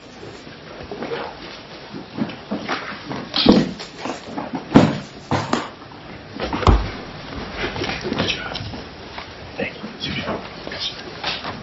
Microsoft Office Word MSWordDoc Word.Document.8 Microsoft Office Word Document MSWordDoc Word.Document.8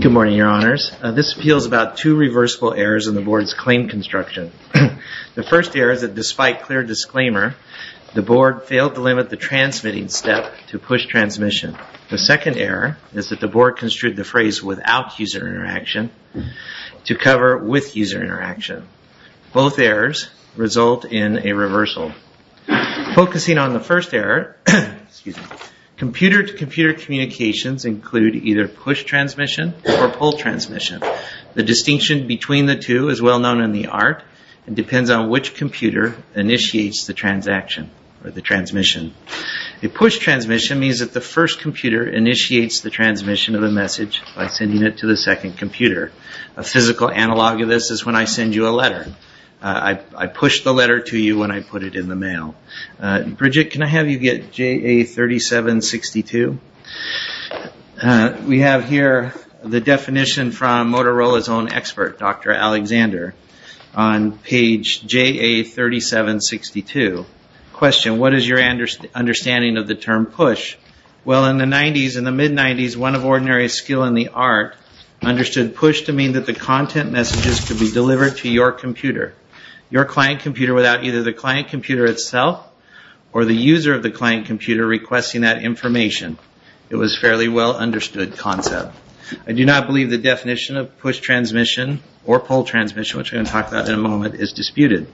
Good morning, your honors. This appeals about two reversible errors in the board's claim construction. The first error is that despite clear disclaimer, the board failed to limit the transmitting step to push transmission. The second error is that the board construed the phrase without user interaction to cover with user interaction. Both errors result in a reversal. Focusing on the first error, computer-to-computer communications include either push transmission or pull transmission. The distinction between the two is well known in the art and depends on which computer initiates the transaction or the transmission. A push transmission means that the first computer initiates the transmission of a message by sending it to the second computer. A physical analog of this is when I send you a letter. I push the letter to you when I put it in the mail. Bridget, can I have you get JA3762? We have here the definition from Motorola's own expert, Dr. Alexander, on page JA3762. Question, what is your understanding of the term push? Well, in the 90s, in the mid-90s, one of ordinary skill in the art understood push to mean that the content messages could be delivered to your computer, your client computer without either the client computer itself or the user of the client computer requesting that information. It was a fairly well understood concept. I do not believe the definition of push transmission or pull transmission, which we're going to talk about in a moment, is disputed.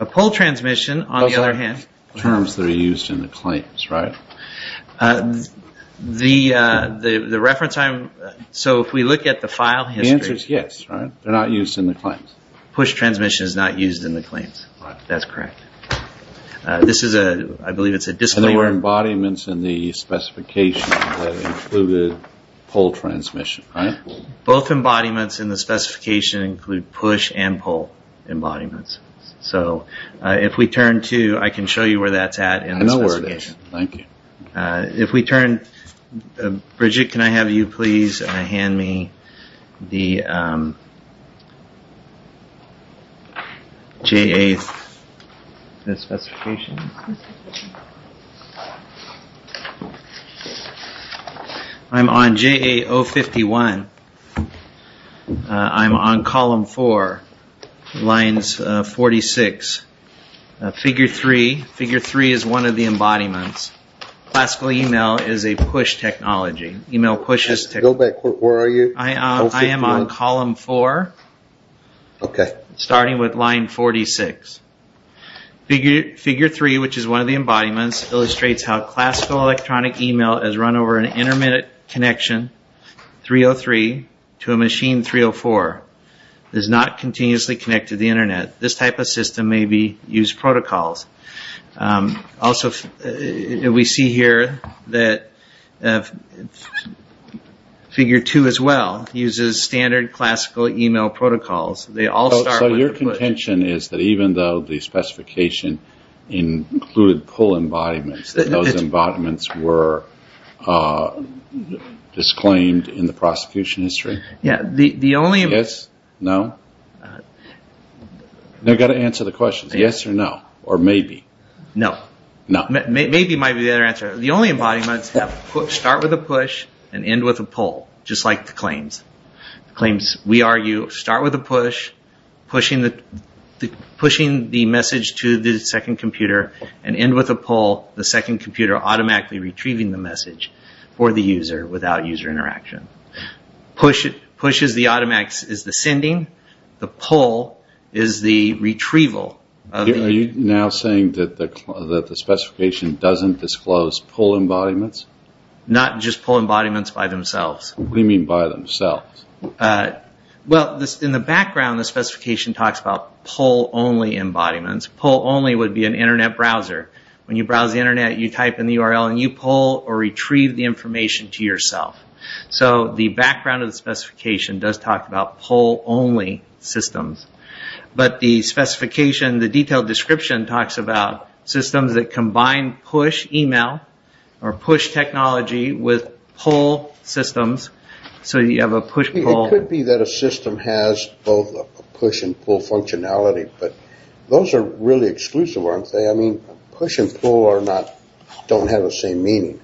A pull transmission, on the other hand... Those are terms that are used in the claims, right? The reference I'm... so if we look at the file history... The answer is yes, right? They're not used in the claims. Push transmission is not used in the claims. That's correct. This is a... I believe it's a disclaimer... And there were embodiments in the specification that included pull transmission, right? Both embodiments in the specification include push and pull embodiments. So if we turn to... I can show you where that's at in the specification. I know where it is. Thank you. If we turn... Bridget, can I have you please hand me the J.A. specification? I'm on J.A. 051. I'm on column 4, lines 46. Figure 3. Figure 3 is one of the embodiments. Classical email is a push technology. Email pushes... Go back. Where are you? I am on column 4, starting with line 46. Figure 3, which is one of the embodiments, illustrates how classical electronic email is run over an intermittent connection, 303, to a machine 304. It is not continuously connected to the Internet. This type of system may be used protocols. Also, we see here that figure 2 as well uses standard classical email protocols. They all start with a push. So your contention is that even though the specification included pull embodiments, those embodiments were disclaimed in the prosecution history? Yes. No? I've got to answer the question. Yes or no? Or maybe? No. Maybe might be the better answer. The only embodiments start with a push and end with a pull, just like the claims. The claims, we argue, start with a push, pushing the message to the second computer, and end with a pull, the second computer automatically retrieving the message for the user without user interaction. Push is the automatics, is the sending. The pull is the retrieval. Are you now saying that the specification doesn't disclose pull embodiments? Not just pull embodiments by themselves. What do you mean by themselves? In the background, the specification talks about pull-only embodiments. Pull-only would be an Internet browser. When you browse the Internet, you type in the URL, and you pull or retrieve the information to yourself. So the background of the specification does talk about pull-only systems. But the specification, the detailed description, talks about systems that combine push email or push technology with pull systems. So you have a push-pull. It could be that a system has both a push and pull functionality, but those are really exclusive, aren't they? I mean, push and pull don't have the same meaning.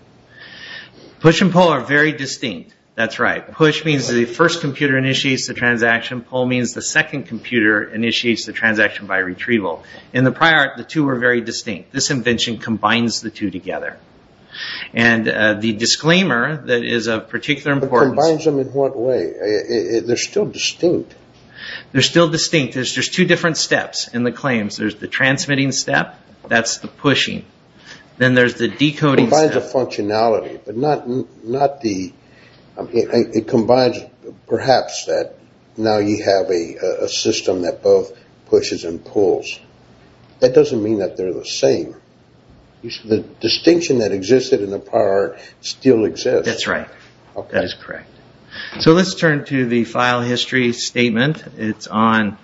Push and pull are very distinct. That's right. Push means the first computer initiates the transaction. Pull means the second computer initiates the transaction by retrieval. In the prior, the two were very distinct. This invention combines the two together. And the disclaimer that is of particular importance... But combines them in what way? They're still distinct. They're still distinct. There's just two different steps in the claims. There's the transmitting step. That's the pushing. Then there's the decoding step. It combines the functionality, but not the... It combines perhaps that now you have a system that both pushes and pulls. That doesn't mean that they're the same. The distinction that existed in the prior still exists. That's right. That is correct. So let's turn to the file history statement. It's on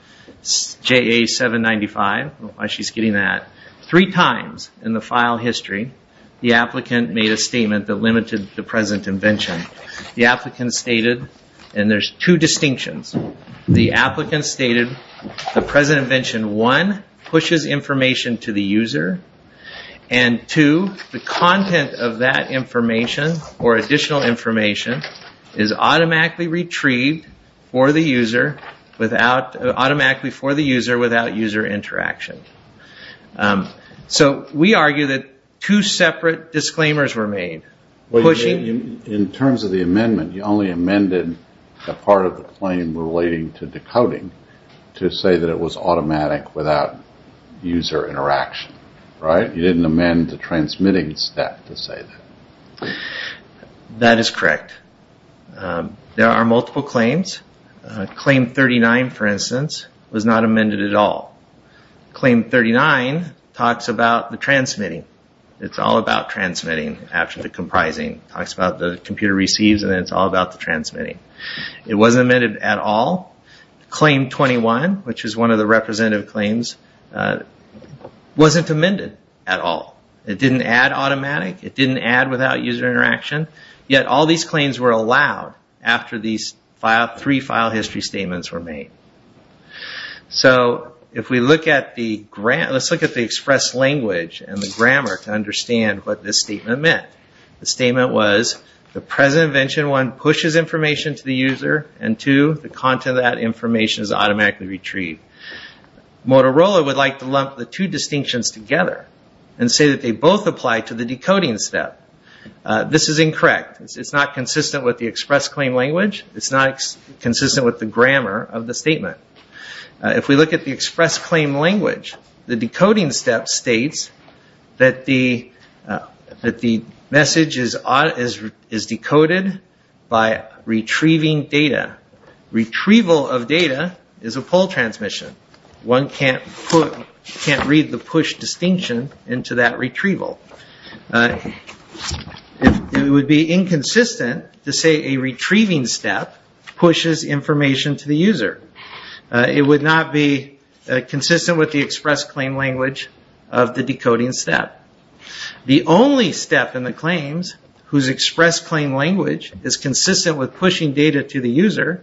JA-795. I don't know why she's getting that. Three times in the file history, the applicant made a statement that limited the present invention. The applicant stated, and there's two distinctions. The applicant stated the present invention, one, pushes information to the user. And two, the content of that information or additional information is automatically retrieved for the user without user interaction. So we argue that two separate disclaimers were made. In terms of the amendment, you only amended a part of the claim relating to decoding to say that it was automatic without user interaction. You didn't amend the transmitting step to say that. That is correct. There are multiple claims. Claim 39, for instance, was not amended at all. Claim 39 talks about the transmitting. It's all about transmitting after the comprising. It talks about the computer receives and then it's all about the transmitting. It wasn't amended at all. Claim 21, which is one of the representative claims, wasn't amended at all. It didn't add automatic. It didn't add without user interaction. Yet all these claims were allowed after these three file history statements were made. So let's look at the express language and the grammar to understand what this statement meant. The statement was the present invention, one, pushes information to the user. And two, the content of that information is automatically retrieved. Motorola would like to lump the two distinctions together and say that they both apply to the decoding step. This is incorrect. It's not consistent with the express claim language. It's not consistent with the grammar of the statement. If we look at the express claim language, the decoding step states that the message is decoded by retrieving data. Retrieval of data is a pull transmission. One can't read the push distinction into that retrieval. It would be inconsistent to say a retrieving step pushes information to the user. It would not be consistent with the express claim language of the decoding step. The only step in the claims whose express claim language is consistent with pushing data to the user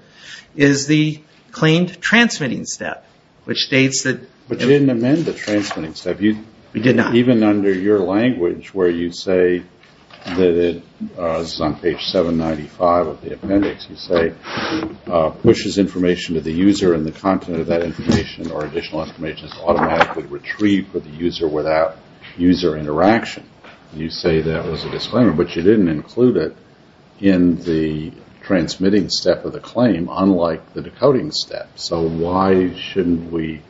is the claimed transmitting step, which states that... But you didn't amend the transmitting step. We did not. Even under your language where you say that it's on page 795 of the appendix, you say pushes information to the user and the content of that information or additional information is automatically retrieved for the user without user interaction. You say that was a disclaimer, but you didn't include it in the transmitting step of the claim unlike the decoding step. So why shouldn't we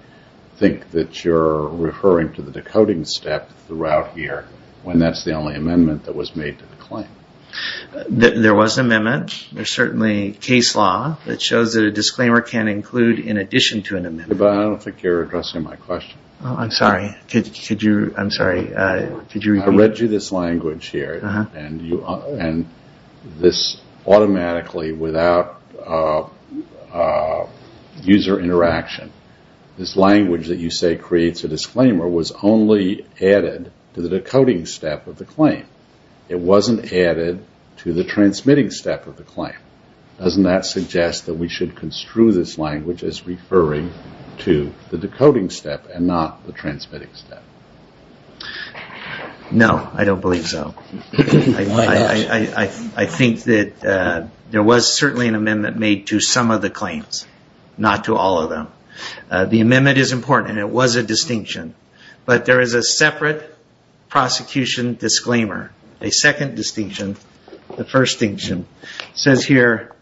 think that you're referring to the decoding step throughout here when that's the only amendment that was made to the claim? There was an amendment. There's certainly case law that shows that a disclaimer can include in addition to an amendment. But I don't think you're addressing my question. I'm sorry. I'm sorry. I read you this language here and this automatically without user interaction. This language that you say creates a disclaimer was only added to the decoding step of the claim. It wasn't added to the transmitting step of the claim. Doesn't that suggest that we should construe this language as referring to the decoding step and not the transmitting step? No, I don't believe so. I think that there was certainly an amendment made to some of the claims, not to all of them. The amendment is important and it was a distinction. But there is a separate prosecution disclaimer, a second distinction, the first distinction. It says here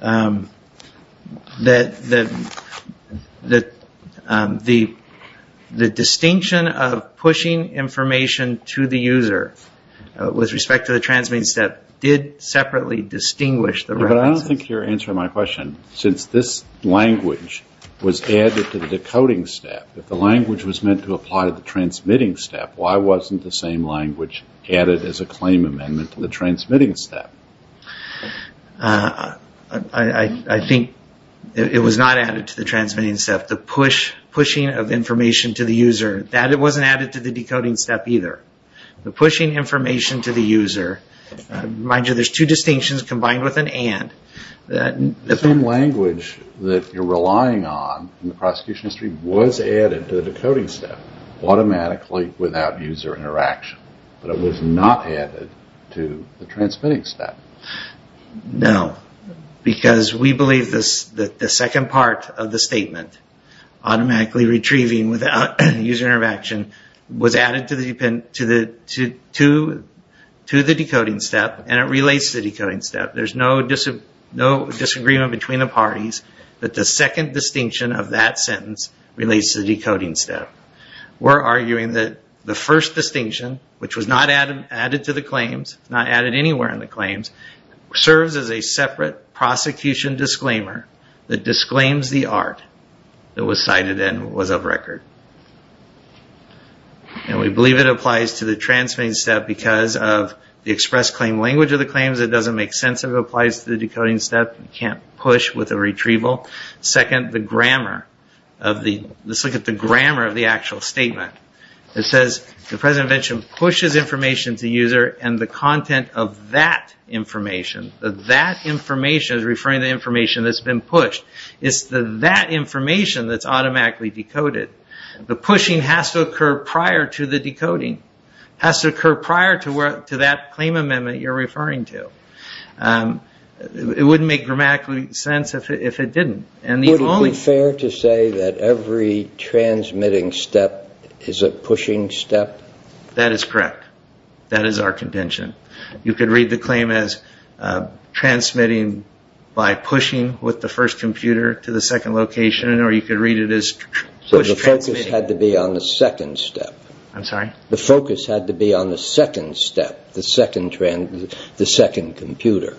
that the distinction of pushing information to the user with respect to the transmitting step did separately distinguish the references. But I don't think you're answering my question. Since this language was added to the decoding step, if the language was meant to apply to the transmitting step, why wasn't the same language added as a claim amendment to the transmitting step? I think it was not added to the transmitting step. The pushing of information to the user, that wasn't added to the decoding step either. The pushing information to the user, mind you, there's two distinctions combined with an and. The same language that you're relying on in the prosecution history was added to the decoding step automatically without user interaction. But it was not added to the transmitting step. No, because we believe that the second part of the statement, automatically retrieving without user interaction, was added to the decoding step and it relates to the decoding step. There's no disagreement between the parties that the second distinction of that sentence relates to the decoding step. We're arguing that the first distinction, which was not added to the claims, not added anywhere in the claims, serves as a separate prosecution disclaimer that disclaims the art that was cited and was of record. And we believe it applies to the transmitting step because of the express claim language of the claims it doesn't make sense if it applies to the decoding step. You can't push with a retrieval. Second, the grammar. Let's look at the grammar of the actual statement. It says the present invention pushes information to the user and the content of that information, that information is referring to the information that's been pushed. It's that information that's automatically decoded. The pushing has to occur prior to the decoding. Has to occur prior to that claim amendment you're referring to. It wouldn't make grammatically sense if it didn't. Would it be fair to say that every transmitting step is a pushing step? That is correct. That is our contention. You could read the claim as transmitting by pushing with the first computer to the second location or you could read it as push transmitting. So the focus had to be on the second step. I'm sorry? The focus had to be on the second step, the second computer.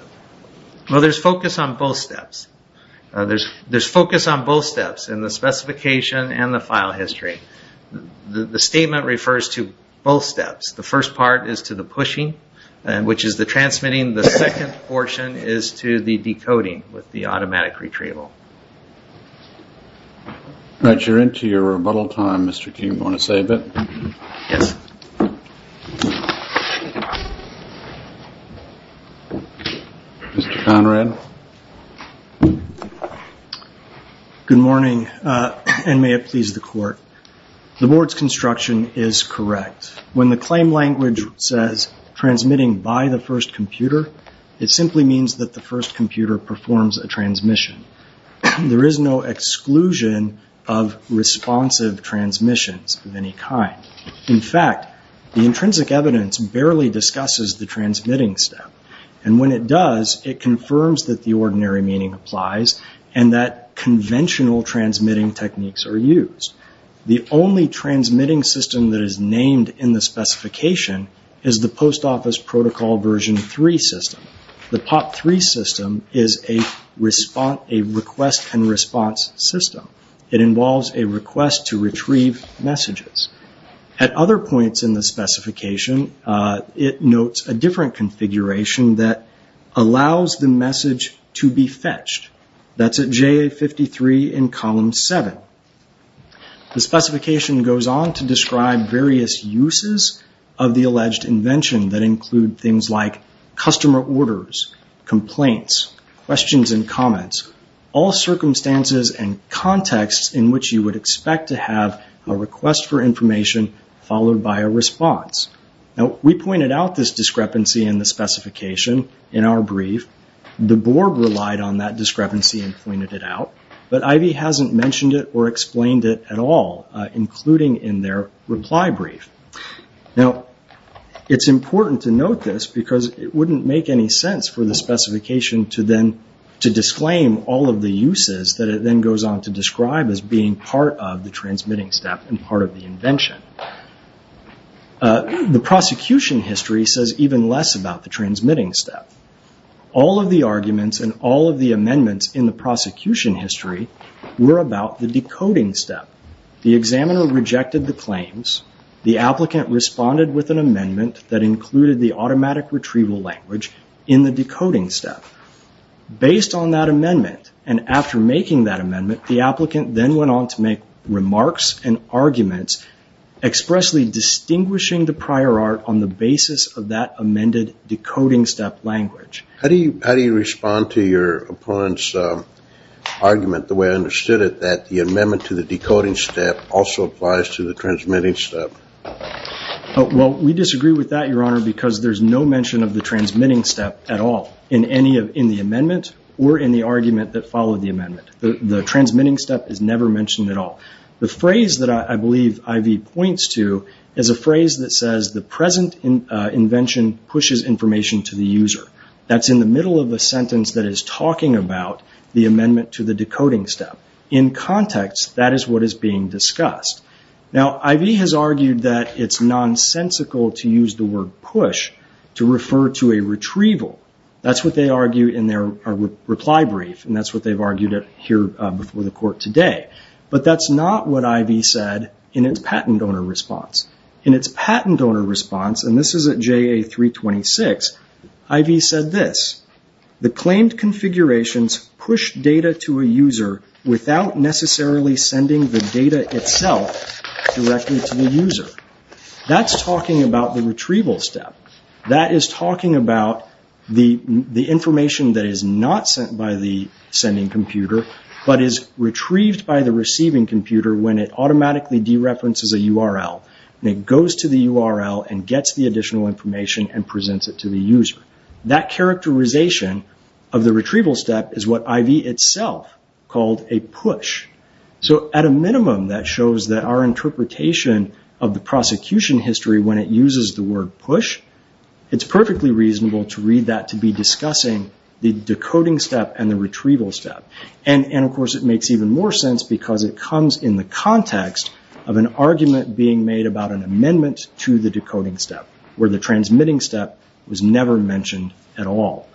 Well, there's focus on both steps. There's focus on both steps in the specification and the file history. The statement refers to both steps. The first part is to the pushing, which is the transmitting. The second portion is to the decoding with the automatic retrieval. You're into your rebuttal time, Mr. King. Do you want to say a bit? Yes. Mr. Conrad? Good morning and may it please the court. The board's construction is correct. When the claim language says transmitting by the first computer, it simply means that the first computer performs a transmission. There is no exclusion of responsive transmissions of any kind. In fact, the intrinsic evidence barely discusses the transmitting step. And when it does, it confirms that the ordinary meaning applies and that conventional transmitting techniques are used. The only transmitting system that is named in the specification is the Post Office Protocol Version 3 system. The POP 3 system is a request and response system. It involves a request to retrieve messages. At other points in the specification, it notes a different configuration that allows the message to be fetched. That's at JA 53 in column 7. The specification goes on to describe various uses of the alleged invention that include things like customer orders, complaints, questions and comments, all circumstances and contexts in which you would expect to have a request for information followed by a response. Now, we pointed out this discrepancy in the specification in our brief. The board relied on that discrepancy and pointed it out. But Ivy hasn't mentioned it or explained it at all, including in their reply brief. Now, it's important to note this because it wouldn't make any sense for the specification to then to disclaim all of the uses that it then goes on to describe as being part of the transmitting step and part of the invention. The prosecution history says even less about the transmitting step. All of the arguments and all of the amendments in the prosecution history were about the decoding step. The examiner rejected the claims. The applicant responded with an amendment that included the automatic retrieval language in the decoding step. Based on that amendment and after making that amendment, the applicant then went on to make remarks and arguments expressly distinguishing the prior art on the basis of that amended decoding step language. How do you respond to your opponent's argument the way I understood it, that the amendment to the decoding step also applies to the transmitting step? Well, we disagree with that, Your Honor, because there's no mention of the transmitting step at all in the amendment or in the argument that followed the amendment. The transmitting step is never mentioned at all. The phrase that I believe Ivy points to is a phrase that says the present invention pushes information to the user. That's in the middle of a sentence that is talking about the amendment to the context, that is what is being discussed. Now, Ivy has argued that it's nonsensical to use the word push to refer to a retrieval. That's what they argue in their reply brief, and that's what they've argued here before the court today. But that's not what Ivy said in its patent donor response. In its patent donor response, and this is at JA 326, Ivy said this, the claimed configurations push data to a user without necessarily sending the data itself directly to the user. That's talking about the retrieval step. That is talking about the information that is not sent by the sending computer but is retrieved by the receiving computer when it automatically dereferences a URL, and it goes to the URL and gets the additional information and presents it to the user. That characterization of the retrieval step is what Ivy itself called a push. So, at a minimum, that shows that our interpretation of the prosecution history when it uses the word push, it's perfectly reasonable to read that to be discussing the decoding step and the retrieval step. And, of course, it makes even more sense because it comes in the context of an argument being made about an amendment to the decoding step, where the transmitting step was never mentioned at all.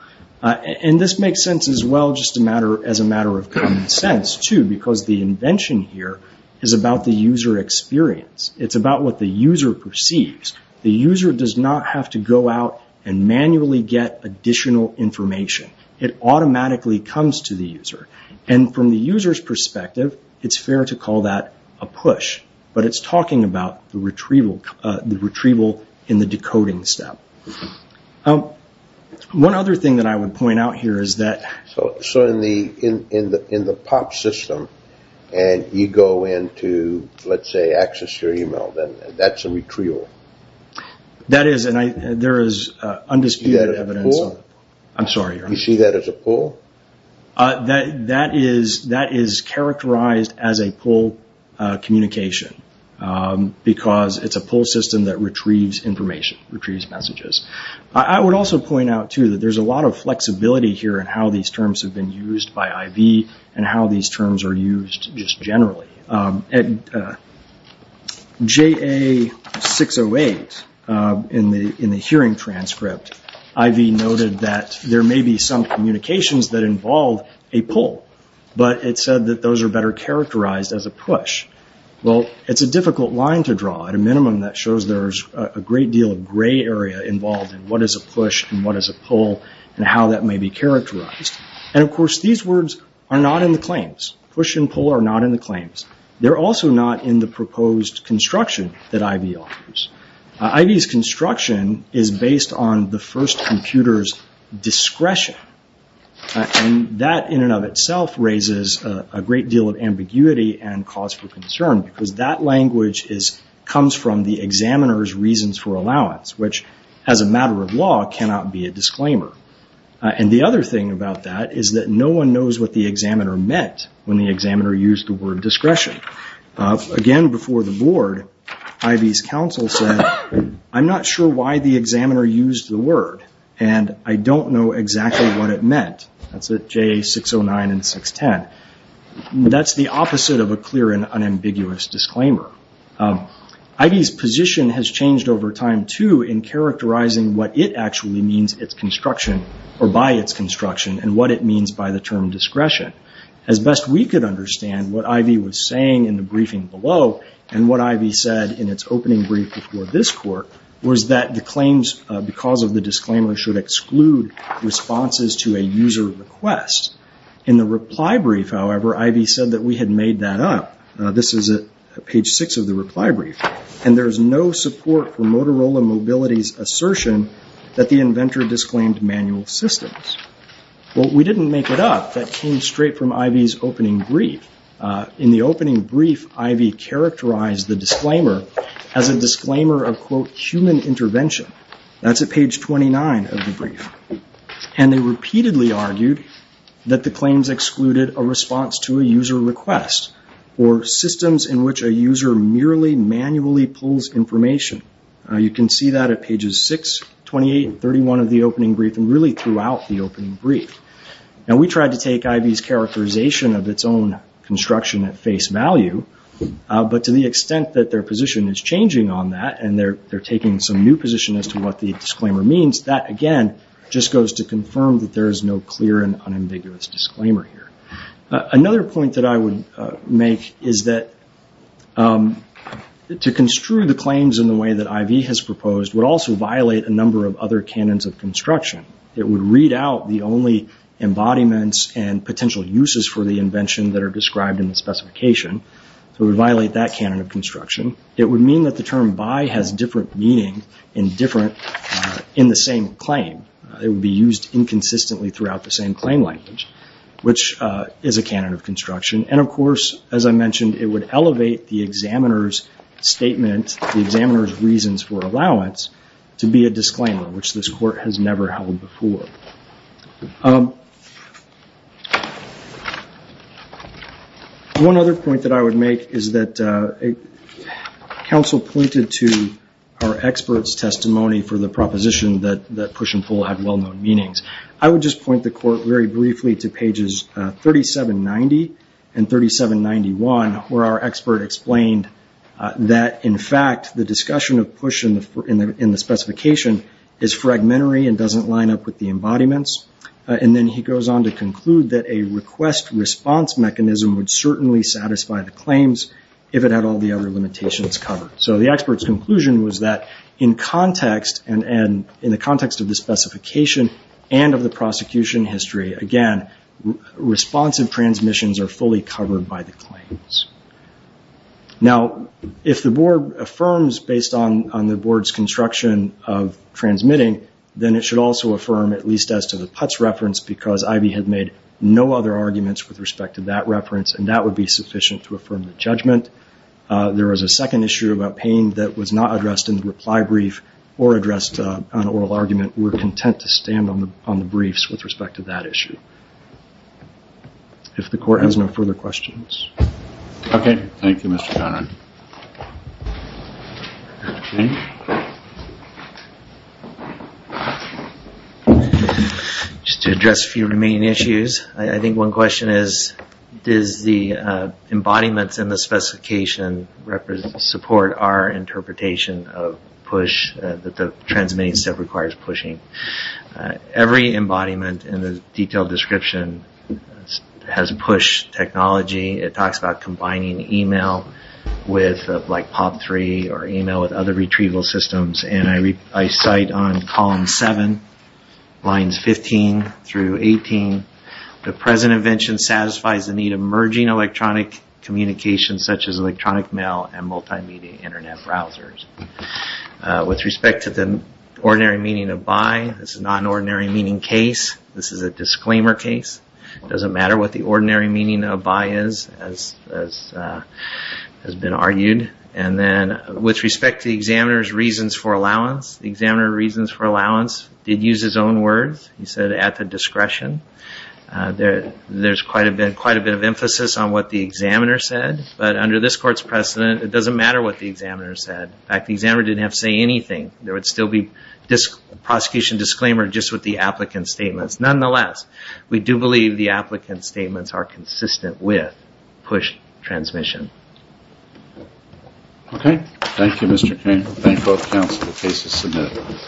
And this makes sense as well just as a matter of common sense, too, because the invention here is about the user experience. It's about what the user perceives. The user does not have to go out and manually get additional information. It automatically comes to the user. And from the user's perspective, it's fair to call that a push, but it's talking about the retrieval in the decoding step. One other thing that I would point out here is that... So, in the POP system, and you go into, let's say, access your email, then that's a retrieval? That is, and there is undisputed evidence... Is that a pull? You see that as a pull? That is characterized as a pull communication because it's a pull system that retrieves information, retrieves messages. I would also point out, too, that there's a lot of flexibility here in how these terms have been used by IV and how these terms are used just generally. At JA608, in the hearing transcript, IV noted that there may be some communications that involve a pull, but it said that those are better characterized as a push. Well, it's a difficult line to draw. At a minimum, that shows there's a great deal of gray area involved in what is a push and what is a pull and how that may be characterized. And, of course, these words are not in the claims. Push and pull are not in the claims. They're also not in the proposed construction that IV offers. IV's construction is based on the first computer's discretion, and that in and of itself raises a great deal of ambiguity and cause for concern because that language comes from the examiner's reasons for allowance, which, as a matter of law, cannot be a disclaimer. And the other thing about that is that no one knows what the examiner meant when the examiner used the word discretion. Again, before the board, IV's counsel said, I'm not sure why the examiner used the word, and I don't know exactly what it meant. That's at JA609 and 610. That's the opposite of a clear and unambiguous disclaimer. IV's position has changed over time, too, in characterizing what it actually means by its construction and what it means by the term discretion. As best we could understand, what IV was saying in the briefing below and what IV said in its opening brief before this court was that the claims, because of the disclaimer, should exclude responses to a user request. In the reply brief, however, IV said that we had made that up. This is at page 6 of the reply brief. And there's no support for Motorola Mobility's assertion that the inventor disclaimed manual systems. Well, we didn't make it up. That came straight from IV's opening brief. In the opening brief, IV characterized the disclaimer as a disclaimer of, quote, human intervention. That's at page 29 of the brief. And they repeatedly argued that the claims excluded a response to a user request or systems in which a user merely manually pulls information. You can see that at pages 6, 28, and 31 of the opening brief and really throughout the opening brief. Now, we tried to take IV's characterization of its own construction at face value, but to the extent that their position is changing on that and they're taking some new position as to what the disclaimer means, that, again, just goes to confirm that there is no clear and unambiguous disclaimer here. Another point that I would make is that to construe the claims in the way that IV has proposed would also violate a number of other canons of construction. It would read out the only embodiments and potential uses for the invention that are described in the specification. So it would violate that canon of construction. It would mean that the term by has different meaning in the same claim. It would be used inconsistently throughout the same claim language, which is a canon of construction. And, of course, as I mentioned, it would elevate the examiner's statement, the examiner's reasons for allowance, to be a disclaimer, which this court has never held before. One other point that I would make is that counsel pointed to our expert's testimony for the proposition that push and pull had well-known meanings. I would just point the court very briefly to pages 3790 and 3791, where our expert explained that, in fact, the discussion of push in the specification is fragmentary and doesn't line up with the embodiments. And then he goes on to conclude that a request-response mechanism would certainly satisfy the claims if it had all the other limitations covered. So the expert's conclusion was that in context and in the context of the specification and of the prosecution history, again, responsive transmissions are fully covered by the claims. Now, if the board affirms based on the board's construction of transmitting, then it should also affirm, at least as to the Putts reference, because Ivey had made no other arguments with respect to that reference, and that would be sufficient to affirm the judgment. There was a second issue about pain that was not addressed in the reply brief or addressed in an oral argument. We're content to stand on the briefs with respect to that issue. If the court has no further questions. Okay. Thank you, Mr. Conard. Just to address a few remaining issues, I think one question is, does the embodiments in the specification support our interpretation of PUSH, that the transmitting step requires PUSHing? Every embodiment in the detailed description has PUSH technology. It talks about combining email with, like, POP3 or email with other retrieval systems. And I cite on column 7, lines 15 through 18, the present invention satisfies the need of merging electronic communications such as electronic mail and multimedia Internet browsers. With respect to the ordinary meaning of by, this is not an ordinary meaning case. This is a disclaimer case. It doesn't matter what the ordinary meaning of by is, as has been argued. And then with respect to the examiner's reasons for allowance, the examiner reasons for allowance did use his own words. He said, at the discretion. There's quite a bit of emphasis on what the examiner said. But under this court's precedent, it doesn't matter what the examiner said. In fact, the examiner didn't have to say anything. There would still be prosecution disclaimer just with the applicant's statements. Nonetheless, we do believe the applicant's statements are consistent with PUSH transmission. Okay. Thank you, Mr. Cain. Thank both counsel. The case is submitted.